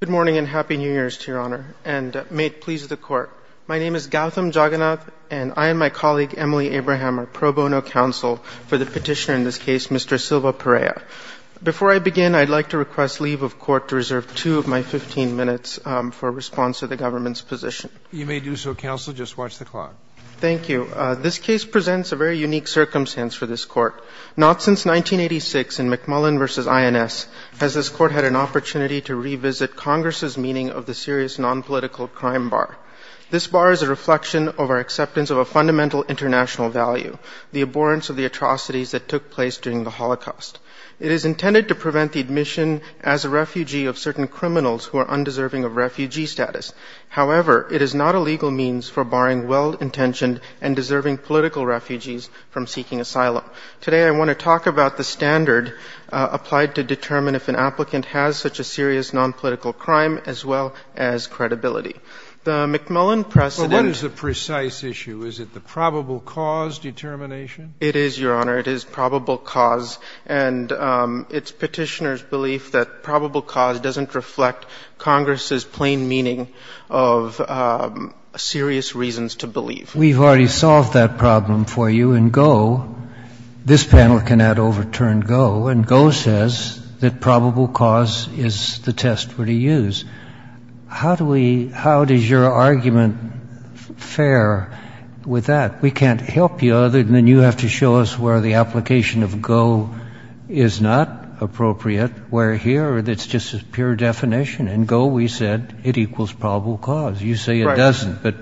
Good morning and happy New Year's to Your Honor, and may it please the Court. My name is Gautam Jagannath, and I and my colleague Emily Abraham are pro bono counsel for the petitioner in this case, Mr. Silva-Pereira. Before I begin, I'd like to request leave of court to reserve two of my 15 minutes for a response to the government's position. You may do so, Counsel. Just watch the clock. Thank you. This case presents a very unique circumstance for this Court. Not since 1986 in McMullen v. INS has this Court had an opportunity to revisit Congress's meaning of the serious nonpolitical crime bar. This bar is a reflection of our acceptance of a fundamental international value, the abhorrence of the atrocities that took place during the Holocaust. It is intended to prevent the admission as a refugee of certain criminals who are undeserving of refugee status. However, it is not a legal means for barring well-intentioned and deserving political refugees from seeking asylum. Today, I want to talk about the standard applied to determine if an applicant has such a serious nonpolitical crime as well as credibility. The McMullen precedent Well, what is the precise issue? Is it the probable cause determination? It is, Your Honor. It is probable cause, and it's Petitioner's belief that probable cause doesn't reflect Congress's plain meaning of serious reasons to believe. We've already solved that problem for you in Go. This panel cannot overturn Go, and Go says that probable cause is the test for the use. How do we how does your argument fare with that? We can't help you other than you have to show us where the application of Go is not appropriate, where here it's just a pure definition. In Go, we said it equals probable cause. Right. You say it doesn't, but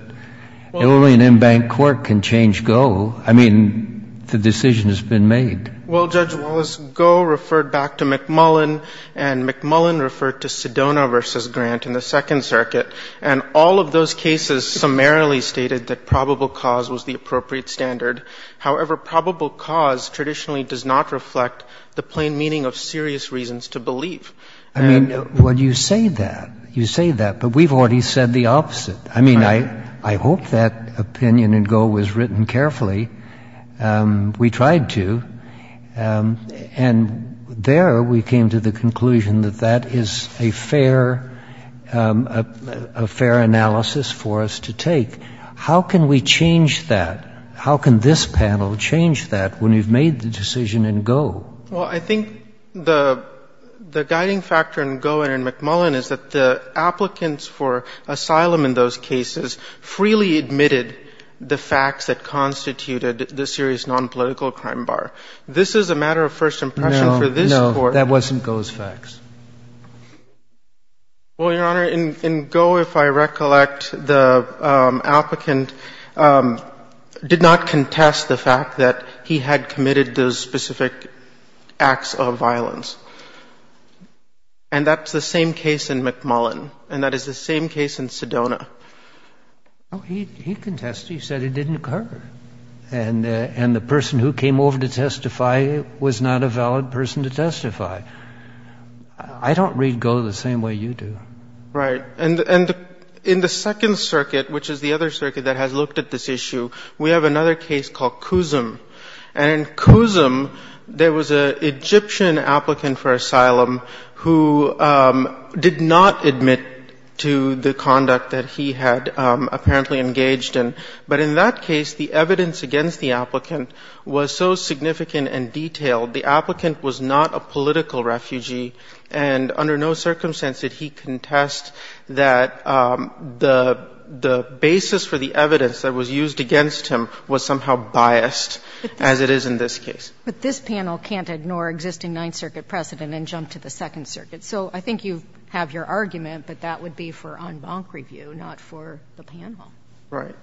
only an embanked court can change Go. I mean, the decision has been made. Well, Judge Wallace, Go referred back to McMullen, and McMullen referred to Sedona v. Grant in the Second Circuit, and all of those cases summarily stated that probable cause was the appropriate standard. However, probable cause traditionally does not reflect the plain meaning of serious reasons to believe. I mean, when you say that, you say that, but we've already said the opposite. I mean, I hope that opinion in Go was written carefully. We tried to. And there we came to the conclusion that that is a fair analysis for us to take. How can we change that? How can this panel change that when you've made the decision in Go? Well, I think the guiding factor in Go and in McMullen is that the applicants for asylum in those cases freely admitted the facts that constituted the serious nonpolitical crime bar. This is a matter of first impression for this Court. No, no. That wasn't Go's facts. Well, Your Honor, in Go, if I recollect, the applicant did not contest the fact that he had committed those specific acts of violence. And that's the same case in McMullen. And that is the same case in Sedona. No, he contested. He said it didn't occur. And the person who came over to testify was not a valid person to testify. I don't read Go the same way you do. Right. And in the Second Circuit, which is the other circuit that has looked at this issue, we have another case called Cusum. And in Cusum, there was an Egyptian applicant for asylum who did not admit to the conduct that he had apparently engaged in. But in that case, the evidence against the applicant was so significant and detailed, the applicant was not a political refugee. And under no circumstance did he contest that the basis for the evidence that was used against him was somehow biased, as it is in this case. But this panel can't ignore existing Ninth Circuit precedent and jump to the Second Circuit. So I think you have your argument, but that would be for en banc review, not for the panel. Right.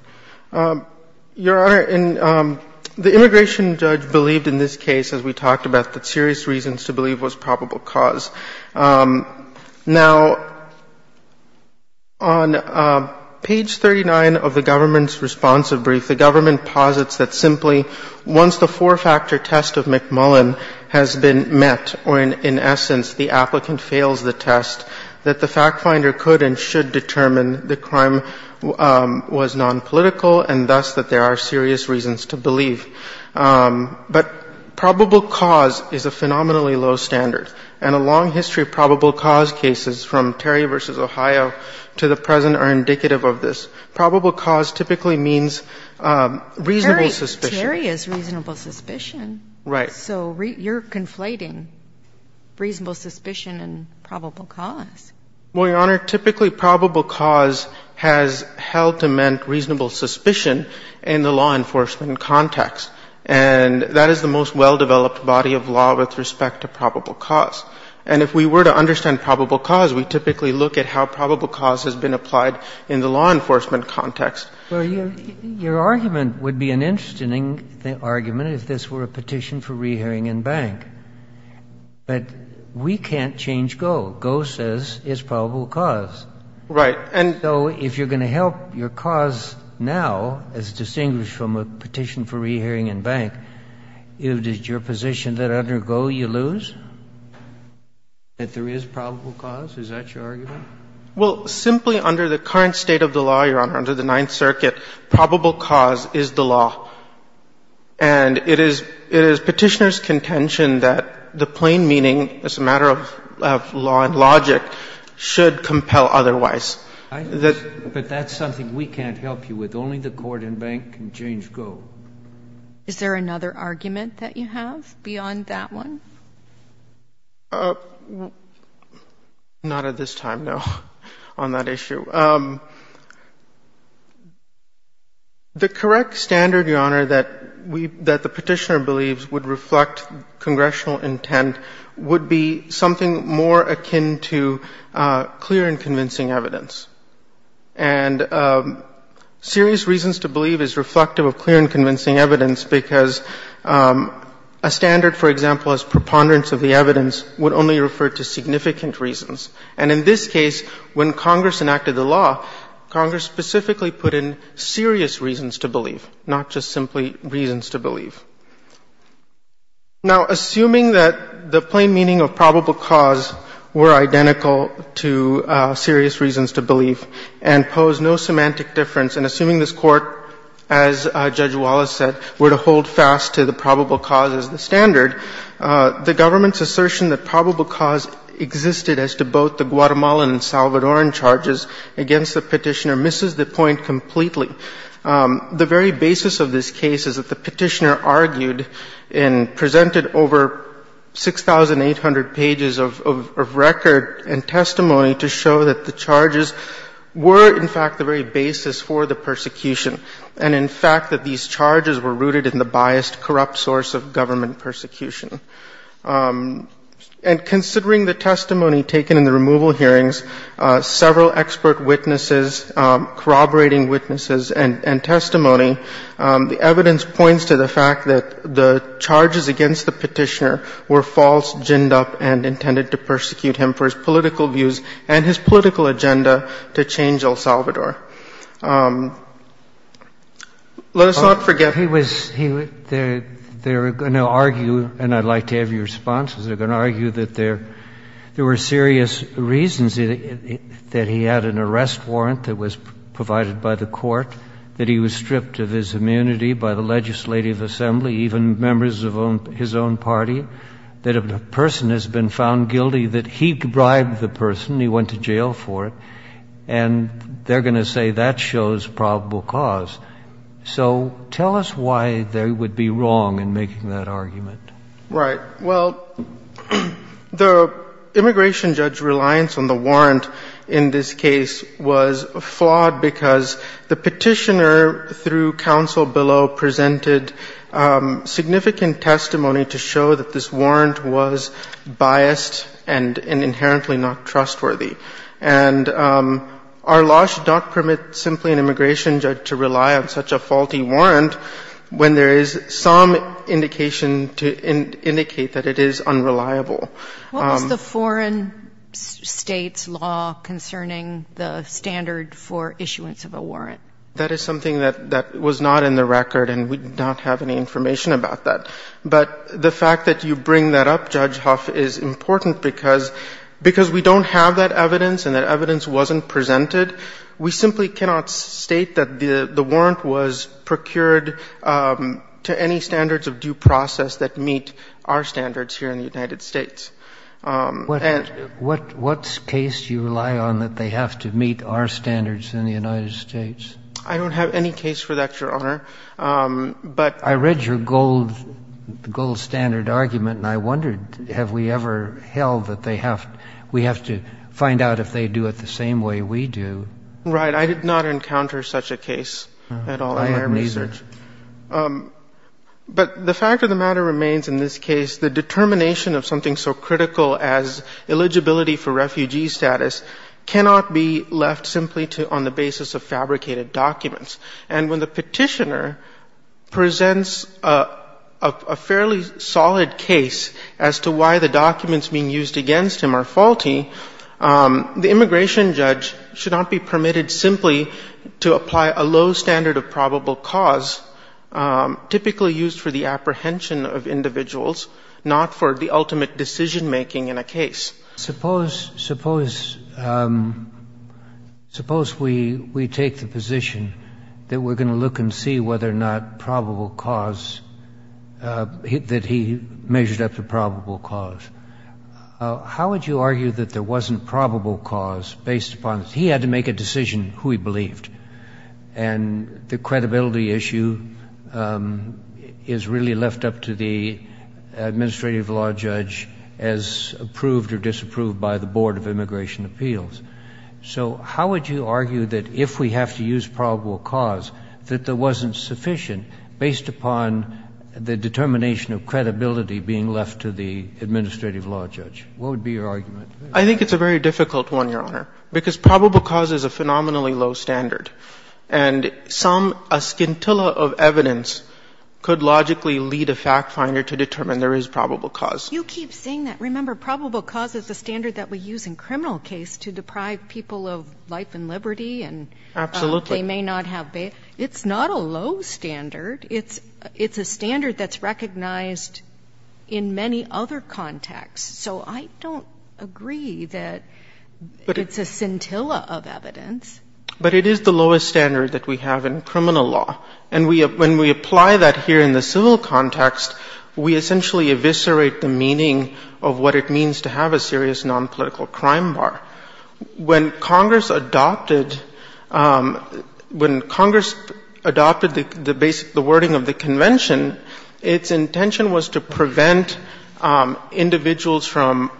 Your Honor, the immigration judge believed in this case, as we talked about, that serious reasons to believe was probable cause. Now, on page 39 of the government's responsive brief, the government posits that simply once the four-factor test of McMullen has been met, or in essence, the applicant fails the test, that the fact finder could and should determine the crime was nonpolitical, and thus that there are serious reasons to believe. But probable cause is a phenomenally low standard. And a long history of probable cause cases, from Terry v. Ohio to the present, are indicative of this. Probable cause typically means reasonable suspicion. Terry is reasonable suspicion. Right. So you're conflating reasonable suspicion and probable cause. Well, Your Honor, typically probable cause has held to meant reasonable suspicion in the law enforcement context. And that is the most well-developed body of law with respect to probable cause. And if we were to understand probable cause, we typically look at how probable cause has been applied in the law enforcement context. Well, your argument would be an interesting argument if this were a petition for rehearing en banc. But we can't change GO. GO says it's probable cause. Right. But if this were a petition for rehearing en banc, is it your position that under GO you lose, that there is probable cause? Is that your argument? Well, simply under the current state of the law, Your Honor, under the Ninth Circuit, probable cause is the law. And it is Petitioner's contention that the plain meaning, as a matter of law and logic, should compel otherwise. But that's something we can't help you with. Only the court en banc can change GO. Is there another argument that you have beyond that one? Not at this time, no, on that issue. The correct standard, Your Honor, that the Petitioner believes would reflect clear and convincing evidence. And serious reasons to believe is reflective of clear and convincing evidence because a standard, for example, as preponderance of the evidence would only refer to significant reasons. And in this case, when Congress enacted the law, Congress specifically put in serious reasons to believe, not just simply reasons to believe. Now, assuming that the plain meaning of probable cause were identical to serious reasons to believe and pose no semantic difference, and assuming this Court, as Judge Wallace said, were to hold fast to the probable cause as the standard, the government's assertion that probable cause existed as to both the Guatemalan and Salvadoran charges against the Petitioner misses the point completely. The very basis of this case is that the Petitioner argued and presented over 6,800 pages of record and testimony to show that the charges were, in fact, the very basis for the persecution and, in fact, that these charges were rooted in the biased, corrupt source of government persecution. And considering the testimony taken in the removal hearings, several expert witnesses, corroborating witnesses and testimony, the evidence points to the fact that the charges against the Petitioner were false, ginned up, and intended to persecute him for his political views and his political agenda to change El Salvador. Let us not forget that he was, he was, they were going to argue, and I'd like to have your responses, they were going to argue that there, there were serious reasons that he had an arrest warrant that was provided by the court, that he was stripped of his immunity by the legislative assembly, even members of his own party, that a person has been found guilty, that he bribed the person, he went to jail for it, and they're going to say that shows probable cause. So tell us why they would be wrong in making that argument. Right. Well, the immigration judge reliance on the warrant in this case was flawed because the Petitioner, through counsel below, presented significant testimony to show that this warrant was biased and inherently not trustworthy. And our law should not permit simply an immigration judge to rely on such a faulty warrant when there is some indication to indicate that it is unreliable. What was the foreign State's law concerning the standard for issuance of a warrant? That is something that was not in the record, and we do not have any information about that. But the fact that you bring that up, Judge Huff, is important because, because we don't have that evidence and that evidence wasn't presented. We simply cannot state that the warrant was procured to any standards of due process that meet our standards here in the United States. What case do you rely on that they have to meet our standards in the United States? I don't have any case for that, Your Honor. But I read your gold standard argument, and I wondered, have we ever held that they have to find out if they do it the same way we do? Right. I did not encounter such a case at all in my research. I have neither. But the fact of the matter remains in this case, the determination of something so critical as eligibility for refugee status cannot be left simply on the basis of fabricated documents. And when the Petitioner presents a fairly solid case as to why the documents being used against him are faulty, the immigration judge should not be permitted simply to apply a low standard of probable cause typically used for the apprehension of individuals, not for the ultimate decision-making in a case. Suppose, suppose, suppose we take the position that we're going to look and see whether or not probable cause, that he measured up to probable cause. How would you argue that there wasn't probable cause based upon, he had to make a decision who he believed, and the credibility issue is really left up to the administrative law judge as approved or disapproved by the Board of Immigration Appeals. So how would you argue that if we have to use probable cause, that there wasn't sufficient based upon the determination of credibility being left to the administrative law judge? What would be your argument? I think it's a very difficult one, Your Honor, because probable cause is a phenomenally low standard. And some, a scintilla of evidence could logically lead a fact finder to determine there is probable cause. You keep saying that. I remember probable cause is a standard that we use in criminal case to deprive people of life and liberty and they may not have, it's not a low standard. It's a standard that's recognized in many other contexts. So I don't agree that it's a scintilla of evidence. But it is the lowest standard that we have in criminal law. And when we apply that here in the civil context, we essentially eviscerate the meaning of what it means to have a serious nonpolitical crime bar. When Congress adopted, when Congress adopted the basic, the wording of the convention, its intention was to prevent individuals from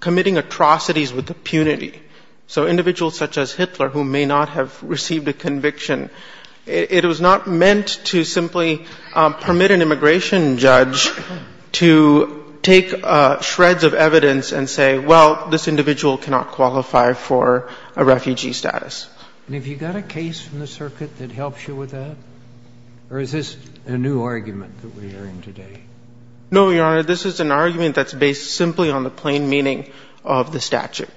committing atrocities with impunity. So individuals such as Hitler who may not have received a conviction, it was not meant to simply permit an immigration judge to take shreds of evidence and say, well, this individual cannot qualify for a refugee status. And have you got a case in the circuit that helps you with that? Or is this a new argument that we are in today? No, Your Honor. This is an argument that's based simply on the plain meaning of the statute.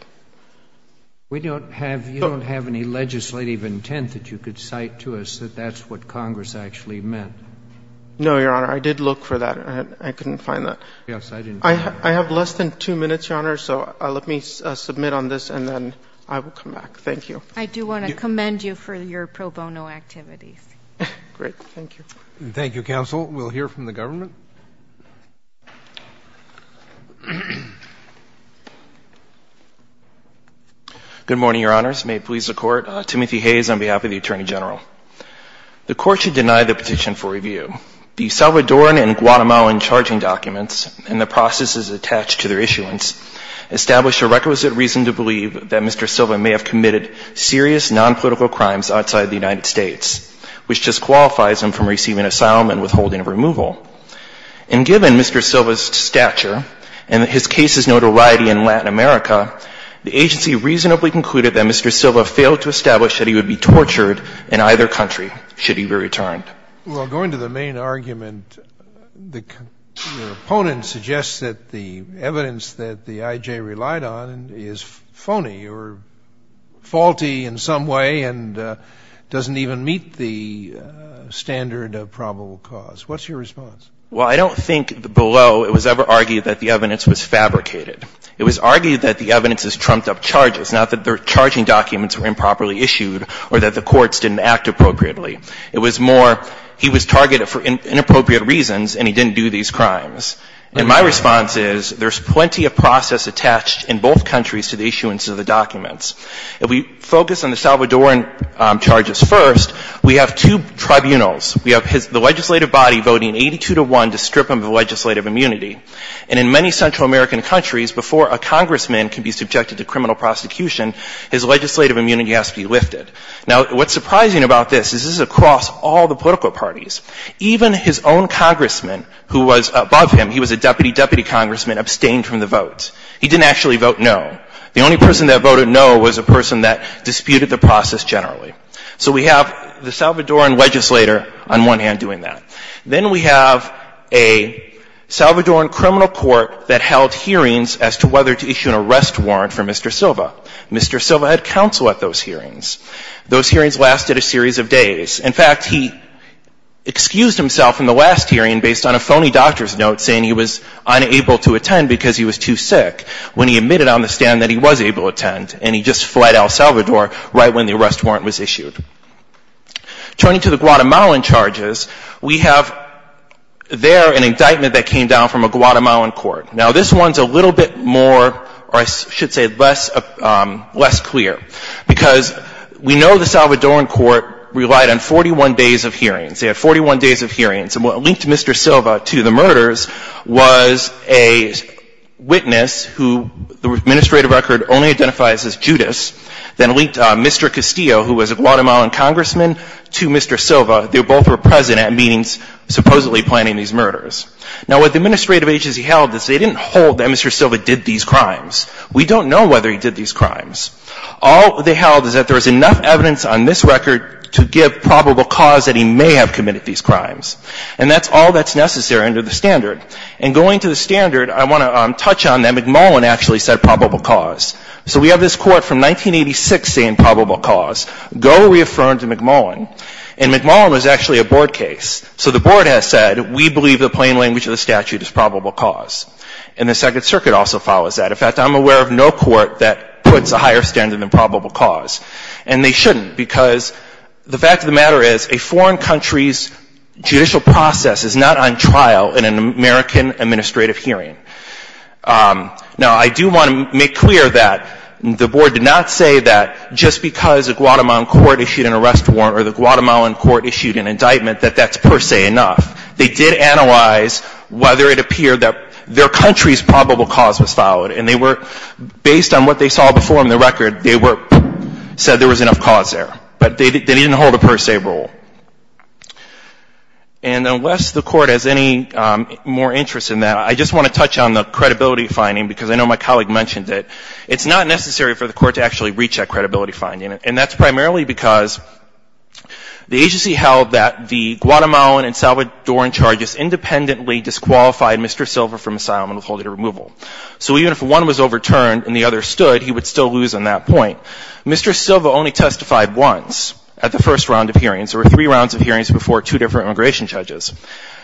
We don't have, you don't have any legislative intent that you could cite to us that that's what Congress actually meant. No, Your Honor. I did look for that. I couldn't find that. Yes, I didn't. I have less than two minutes, Your Honor. So let me submit on this and then I will come back. Thank you. I do want to commend you for your pro bono activities. Great. Thank you. Thank you, counsel. We'll hear from the government. Good morning, Your Honors. May it please the Court. Timothy Hayes on behalf of the Attorney General. The Court should deny the petition for review. The Salvadoran and Guatemalan charging documents and the processes attached to their issuance establish a requisite reason to believe that Mr. Silva may have committed serious nonpolitical crimes outside the United States, which disqualifies him from receiving asylum and withholding removal. And given Mr. Silva's stature and his case's notoriety in Latin America, the agency reasonably concluded that Mr. Silva failed to establish that he would be tortured in either country should he be returned. Well, going to the main argument, the opponent suggests that the evidence that the I.J. relied on is phony or faulty in some way and doesn't even meet the standard of probable cause. What's your response? Well, I don't think below it was ever argued that the evidence was fabricated. It was argued that the evidence has trumped up charges, not that the charging documents were improperly issued or that the courts didn't act appropriately. It was more he was targeted for inappropriate reasons and he didn't do these crimes. And my response is there's plenty of process attached in both countries to the issuance of the documents. If we focus on the Salvadoran charges first, we have two tribunals. We have the legislative body voting 82 to 1 to strip him of legislative immunity. And in many Central American countries, before a congressman can be subjected to criminal prosecution, his legislative immunity has to be lifted. Now, what's surprising about this is this is across all the political parties. Even his own congressman who was above him, he was a deputy, deputy congressman, abstained from the vote. He didn't actually vote no. The only person that voted no was a person that disputed the process generally. So we have the Salvadoran legislator on one hand doing that. Then we have a Salvadoran criminal court that held hearings as to whether to issue an arrest warrant for Mr. Silva. Mr. Silva had counsel at those hearings. Those hearings lasted a series of days. In fact, he excused himself in the last hearing based on a phony doctor's note saying he was unable to attend because he was too sick, when he admitted on the stand that he was able to attend. And he just fled El Salvador right when the arrest warrant was issued. Turning to the Guatemalan charges, we have there an indictment that came down from a Guatemalan court. Now, this one's a little bit more or I should say less clear because we know the Salvadoran court relied on 41 days of hearings. They had 41 days of hearings. And what linked Mr. Silva to the murders was a witness who the administrative record only identifies as Judas that linked Mr. Castillo, who was a Guatemalan congressman, to Mr. Silva. They both were present at meetings supposedly planning these murders. Now, what the administrative agency held is they didn't hold that Mr. Silva did these crimes. We don't know whether he did these crimes. All they held is that there was enough evidence on this record to give probable cause that he may have committed these crimes. And that's all that's necessary under the standard. And going to the standard, I want to touch on that McMullen actually said probable cause. So we have this court from 1986 saying probable cause. Go reaffirm to McMullen. And McMullen was actually a board case. So the board has said we believe the plain language of the statute is probable cause. And the Second Circuit also follows that. In fact, I'm aware of no court that puts a higher standard than probable cause. And they shouldn't because the fact of the matter is a foreign country's judicial process is not on trial in an American administrative hearing. Now, I do want to make clear that the board did not say that just because a Guatemalan court issued an arrest warrant or the Guatemalan court issued an indictment that that's per se enough. They did analyze whether it appeared that their country's probable cause was followed. And they were, based on what they saw before in the record, they said there was enough cause there. But they didn't hold a per se rule. And unless the court has any more interest in that, I just want to touch on the credibility finding because I know my colleague mentioned it. It's not necessary for the court to actually reach that credibility finding. And that's primarily because the agency held that the Guatemalan and Salvadoran charges independently disqualified Mr. Silva from asylum and withholding removal. So even if one was overturned and the other stood, he would still lose on that point. Mr. Silva only testified once at the first round of hearings. There were three rounds of hearings before two different immigration judges.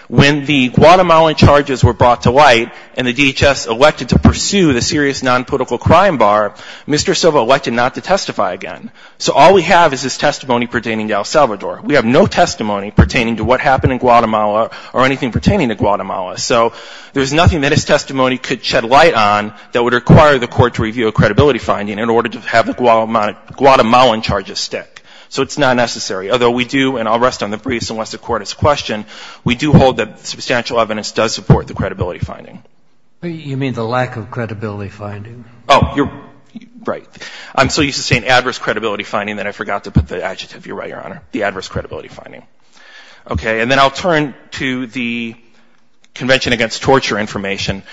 When the Guatemalan charges were brought to light and the DHS elected to pursue the serious nonpolitical crime bar, Mr. Silva elected not to testify again. So all we have is his testimony pertaining to El Salvador. We have no testimony pertaining to what happened in Guatemala or anything pertaining to Guatemala. So there's nothing that his testimony could shed light on that would require the court to review a credibility finding in order to have the Guatemalan charges stick. So it's not necessary. Although we do, and I'll rest on the briefs unless the court has a question, we do hold that substantial evidence does support the credibility finding. You mean the lack of credibility finding? Oh, you're right. I'm so used to saying adverse credibility finding that I forgot to put the adjective. You're right, Your Honor. The adverse credibility finding. Okay. And then I'll turn to the Convention Against Torture information.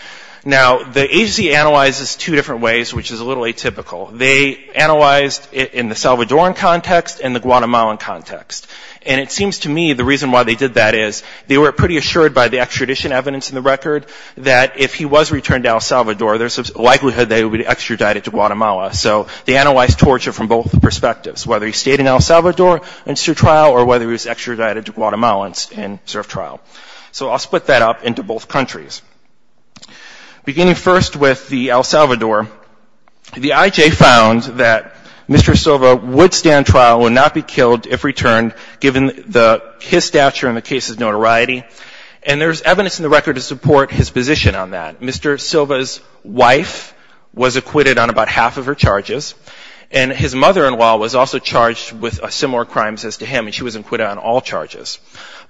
Now, the agency analyzes two different ways, which is a little atypical. They analyzed it in the Salvadoran context and the Guatemalan context. And it seems to me the reason why they did that is they were pretty assured by the extradition evidence in the record that if he was returned to El Salvador, there's a likelihood that he would be extradited to Guatemala. So they analyzed torture from both perspectives, whether he stayed in El Salvador and served trial or whether he was extradited to Guatemala and served trial. So I'll split that up into both countries. Beginning first with the El Salvador, the IJ found that Mr. Silva would stand trial, would not be killed if returned, given his stature and the case's notoriety. And there's evidence in the record to support his position on that. Mr. Silva's wife was acquitted on about half of her charges. And his mother-in-law was also charged with similar crimes as to him, and she was acquitted on all charges.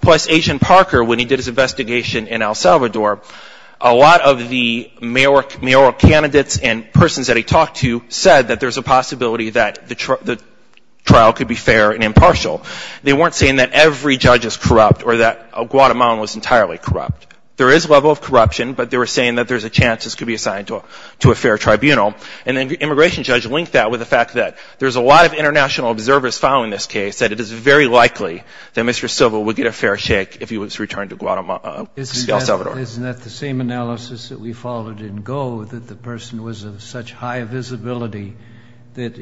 Plus, Agent Parker, when he did his investigation in El Salvador, a lot of the mayoral candidates and persons that he talked to said that there's a possibility that the trial could be fair and impartial. They weren't saying that every judge is corrupt or that Guatemala was entirely corrupt. There is a level of corruption, but they were saying that there's a chance this could be assigned to a fair tribunal. And the immigration judge linked that with the fact that there's a lot of international observers following this case, that it is very likely that Mr. Silva would get a fair shake if he was returned to El Salvador. Isn't that the same analysis that we followed in Go, that the person was of such high visibility that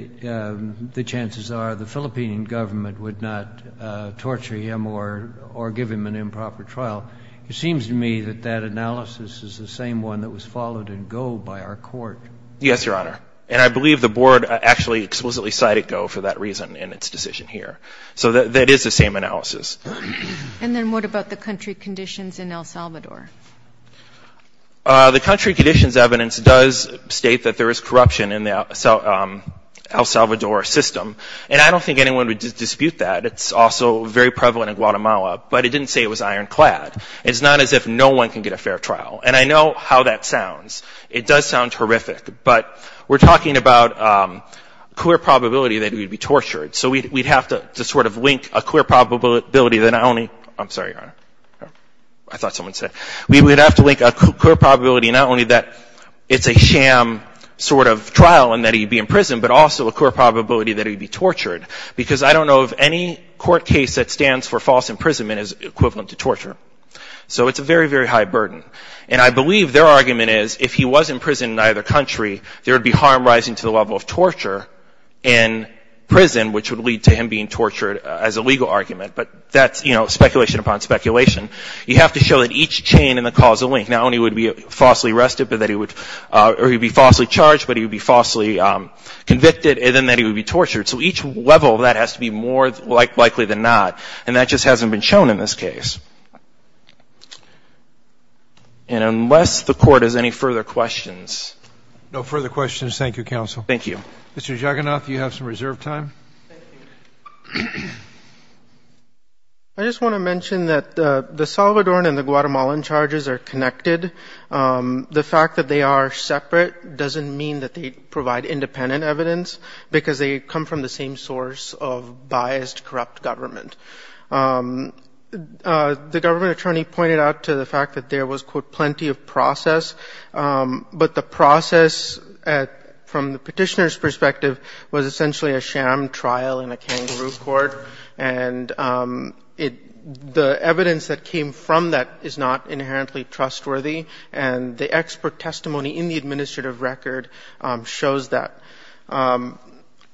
the chances are the Philippine government would not torture him or give him an improper trial? It seems to me that that analysis is the same one that was followed in Go by our court. Yes, Your Honor. And I believe the board actually explicitly cited Go for that reason in its decision here. So that is the same analysis. And then what about the country conditions in El Salvador? The country conditions evidence does state that there is corruption in the El Salvador system. And I don't think anyone would dispute that. It's also very prevalent in Guatemala. But it didn't say it was ironclad. It's not as if no one can get a fair trial. And I know how that sounds. It does sound horrific. But we're talking about a clear probability that he would be tortured. So we'd have to sort of link a clear probability that not only — I'm sorry, Your Honor. I thought someone said — we would have to link a clear probability not only that it's a sham sort of trial and that he'd be in prison, but also a clear probability that he'd be tortured. Because I don't know of any court case that stands for false imprisonment is equivalent to torture. So it's a very, very high burden. And I believe their argument is if he was in prison in either country, there would be a high probability that he would be tortured. And I don't know of any court case that stands for false imprisonment, which would lead to him being tortured as a legal argument. But that's, you know, speculation upon speculation. You have to show that each chain in the causal link, not only would he be falsely arrested, but that he would — or he would be falsely charged, but he would be falsely convicted, and then that he would be tortured. So each level of that has to be more likely than not. And that just hasn't been shown in this case. And unless the Court has any further questions. No further questions. Thank you, Counsel. Thank you. Mr. Jagannath, you have some reserved time. Thank you. I just want to mention that the Salvadoran and the Guatemalan charges are connected. The fact that they are separate doesn't mean that they provide independent evidence, because they come from the same source of biased, corrupt government. The government attorney pointed out to the fact that there was, quote, plenty of process. But the process, from the Petitioner's perspective, was essentially a sham trial in a kangaroo court. And it — the evidence that came from that is not inherently trustworthy. And the expert testimony in the administrative record shows that.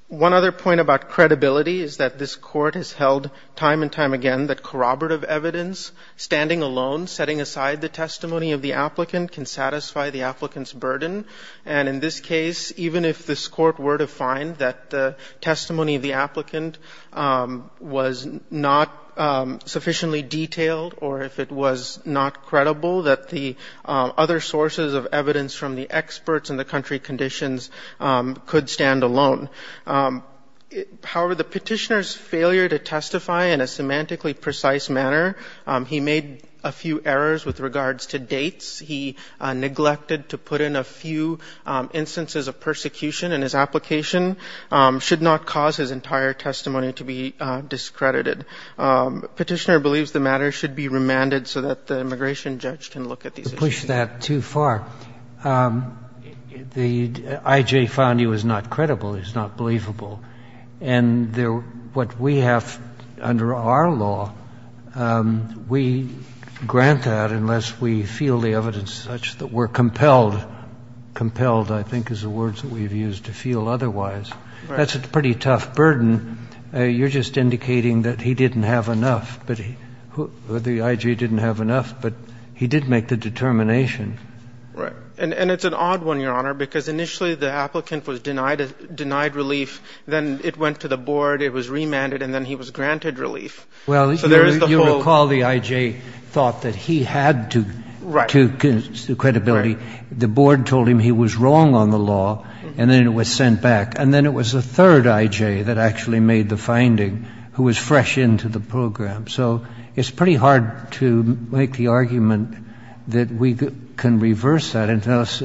One other point about credibility is that this Court has held time and time again that corroborative evidence, standing alone, setting aside the testimony of the applicant, can satisfy the applicant's burden. And in this case, even if this Court were to find that the testimony of the applicant was not sufficiently detailed, or if it was not credible, that the other sources of evidence from the experts and the country conditions could stand alone. However, the Petitioner's failure to testify in a semantically precise manner, he made a few errors with regards to dates. He neglected to put in a few instances of persecution, and his application should not cause his entire testimony to be discredited. The Petitioner believes the matter should be remanded so that the immigration judge can look at these issues. Kennedy to the Court. Mr. Rice. Mr. Rice, you pushed that too far. The IJ found he was not credible, he was not believable. And there — what we have under our law, we grant that unless we feel the evidence that we're compelled. Compelled, I think, is the words that we've used, to feel otherwise. That's a pretty tough burden. You're just indicating that he didn't have enough, that the IJ didn't have enough, but he did make the determination. And it's an odd one, Your Honor, because initially the applicant was denied relief, then it went to the board, it was remanded, and then he was granted relief. Well, you recall the IJ thought that he had to — Right. To credibility. Right. The board told him he was wrong on the law, and then it was sent back. And then it was the third IJ that actually made the finding, who was fresh into the program. So it's pretty hard to make the argument that we can reverse that, unless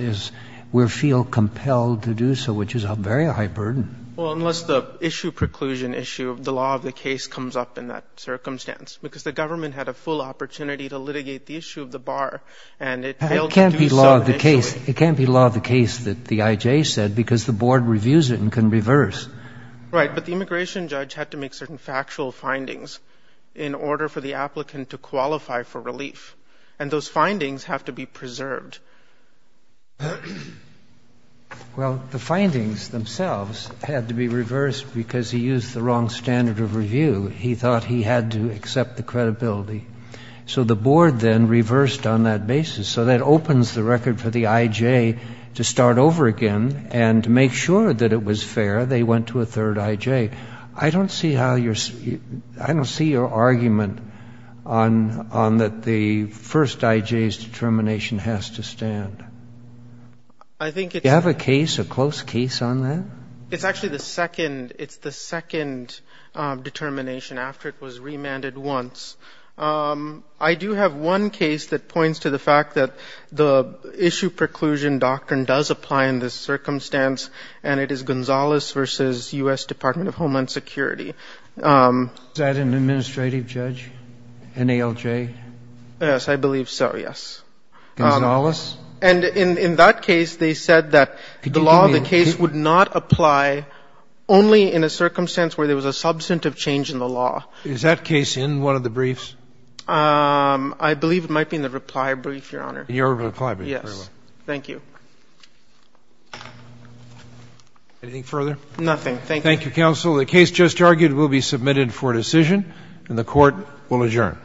we feel compelled to do so, which is a very high burden. Well, unless the issue preclusion issue of the law of the case comes up in that circumstance, because the government had a full opportunity to litigate the issue of the bar, and it failed to do so initially. It can't be law of the case that the IJ said, because the board reviews it and can reverse. Right. But the immigration judge had to make certain factual findings in order for the applicant to qualify for relief. And those findings have to be preserved. Well, the findings themselves had to be reversed because he used the wrong standard of review. He thought he had to accept the credibility. So the board then reversed on that basis. So that opens the record for the IJ to start over again and to make sure that it was fair. They went to a third IJ. I don't see how your — I don't see your argument on that the first IJ's determination has to stand. I think it's — Do you have a case, a close case on that? It's actually the second. It's the second determination after it was remanded once. I do have one case that points to the fact that the issue preclusion doctrine does apply in this circumstance, and it is Gonzales v. U.S. Department of Homeland Security. Is that an administrative judge, NALJ? Yes, I believe so, yes. Gonzales? And in that case, they said that the law of the case would not apply only in a circumstance where there was a substantive change in the law. Is that case in one of the briefs? I believe it might be in the reply brief, Your Honor. In your reply brief. Yes. Thank you. Anything further? Nothing. Thank you. Thank you, counsel. The case just argued will be submitted for decision, and the Court will adjourn.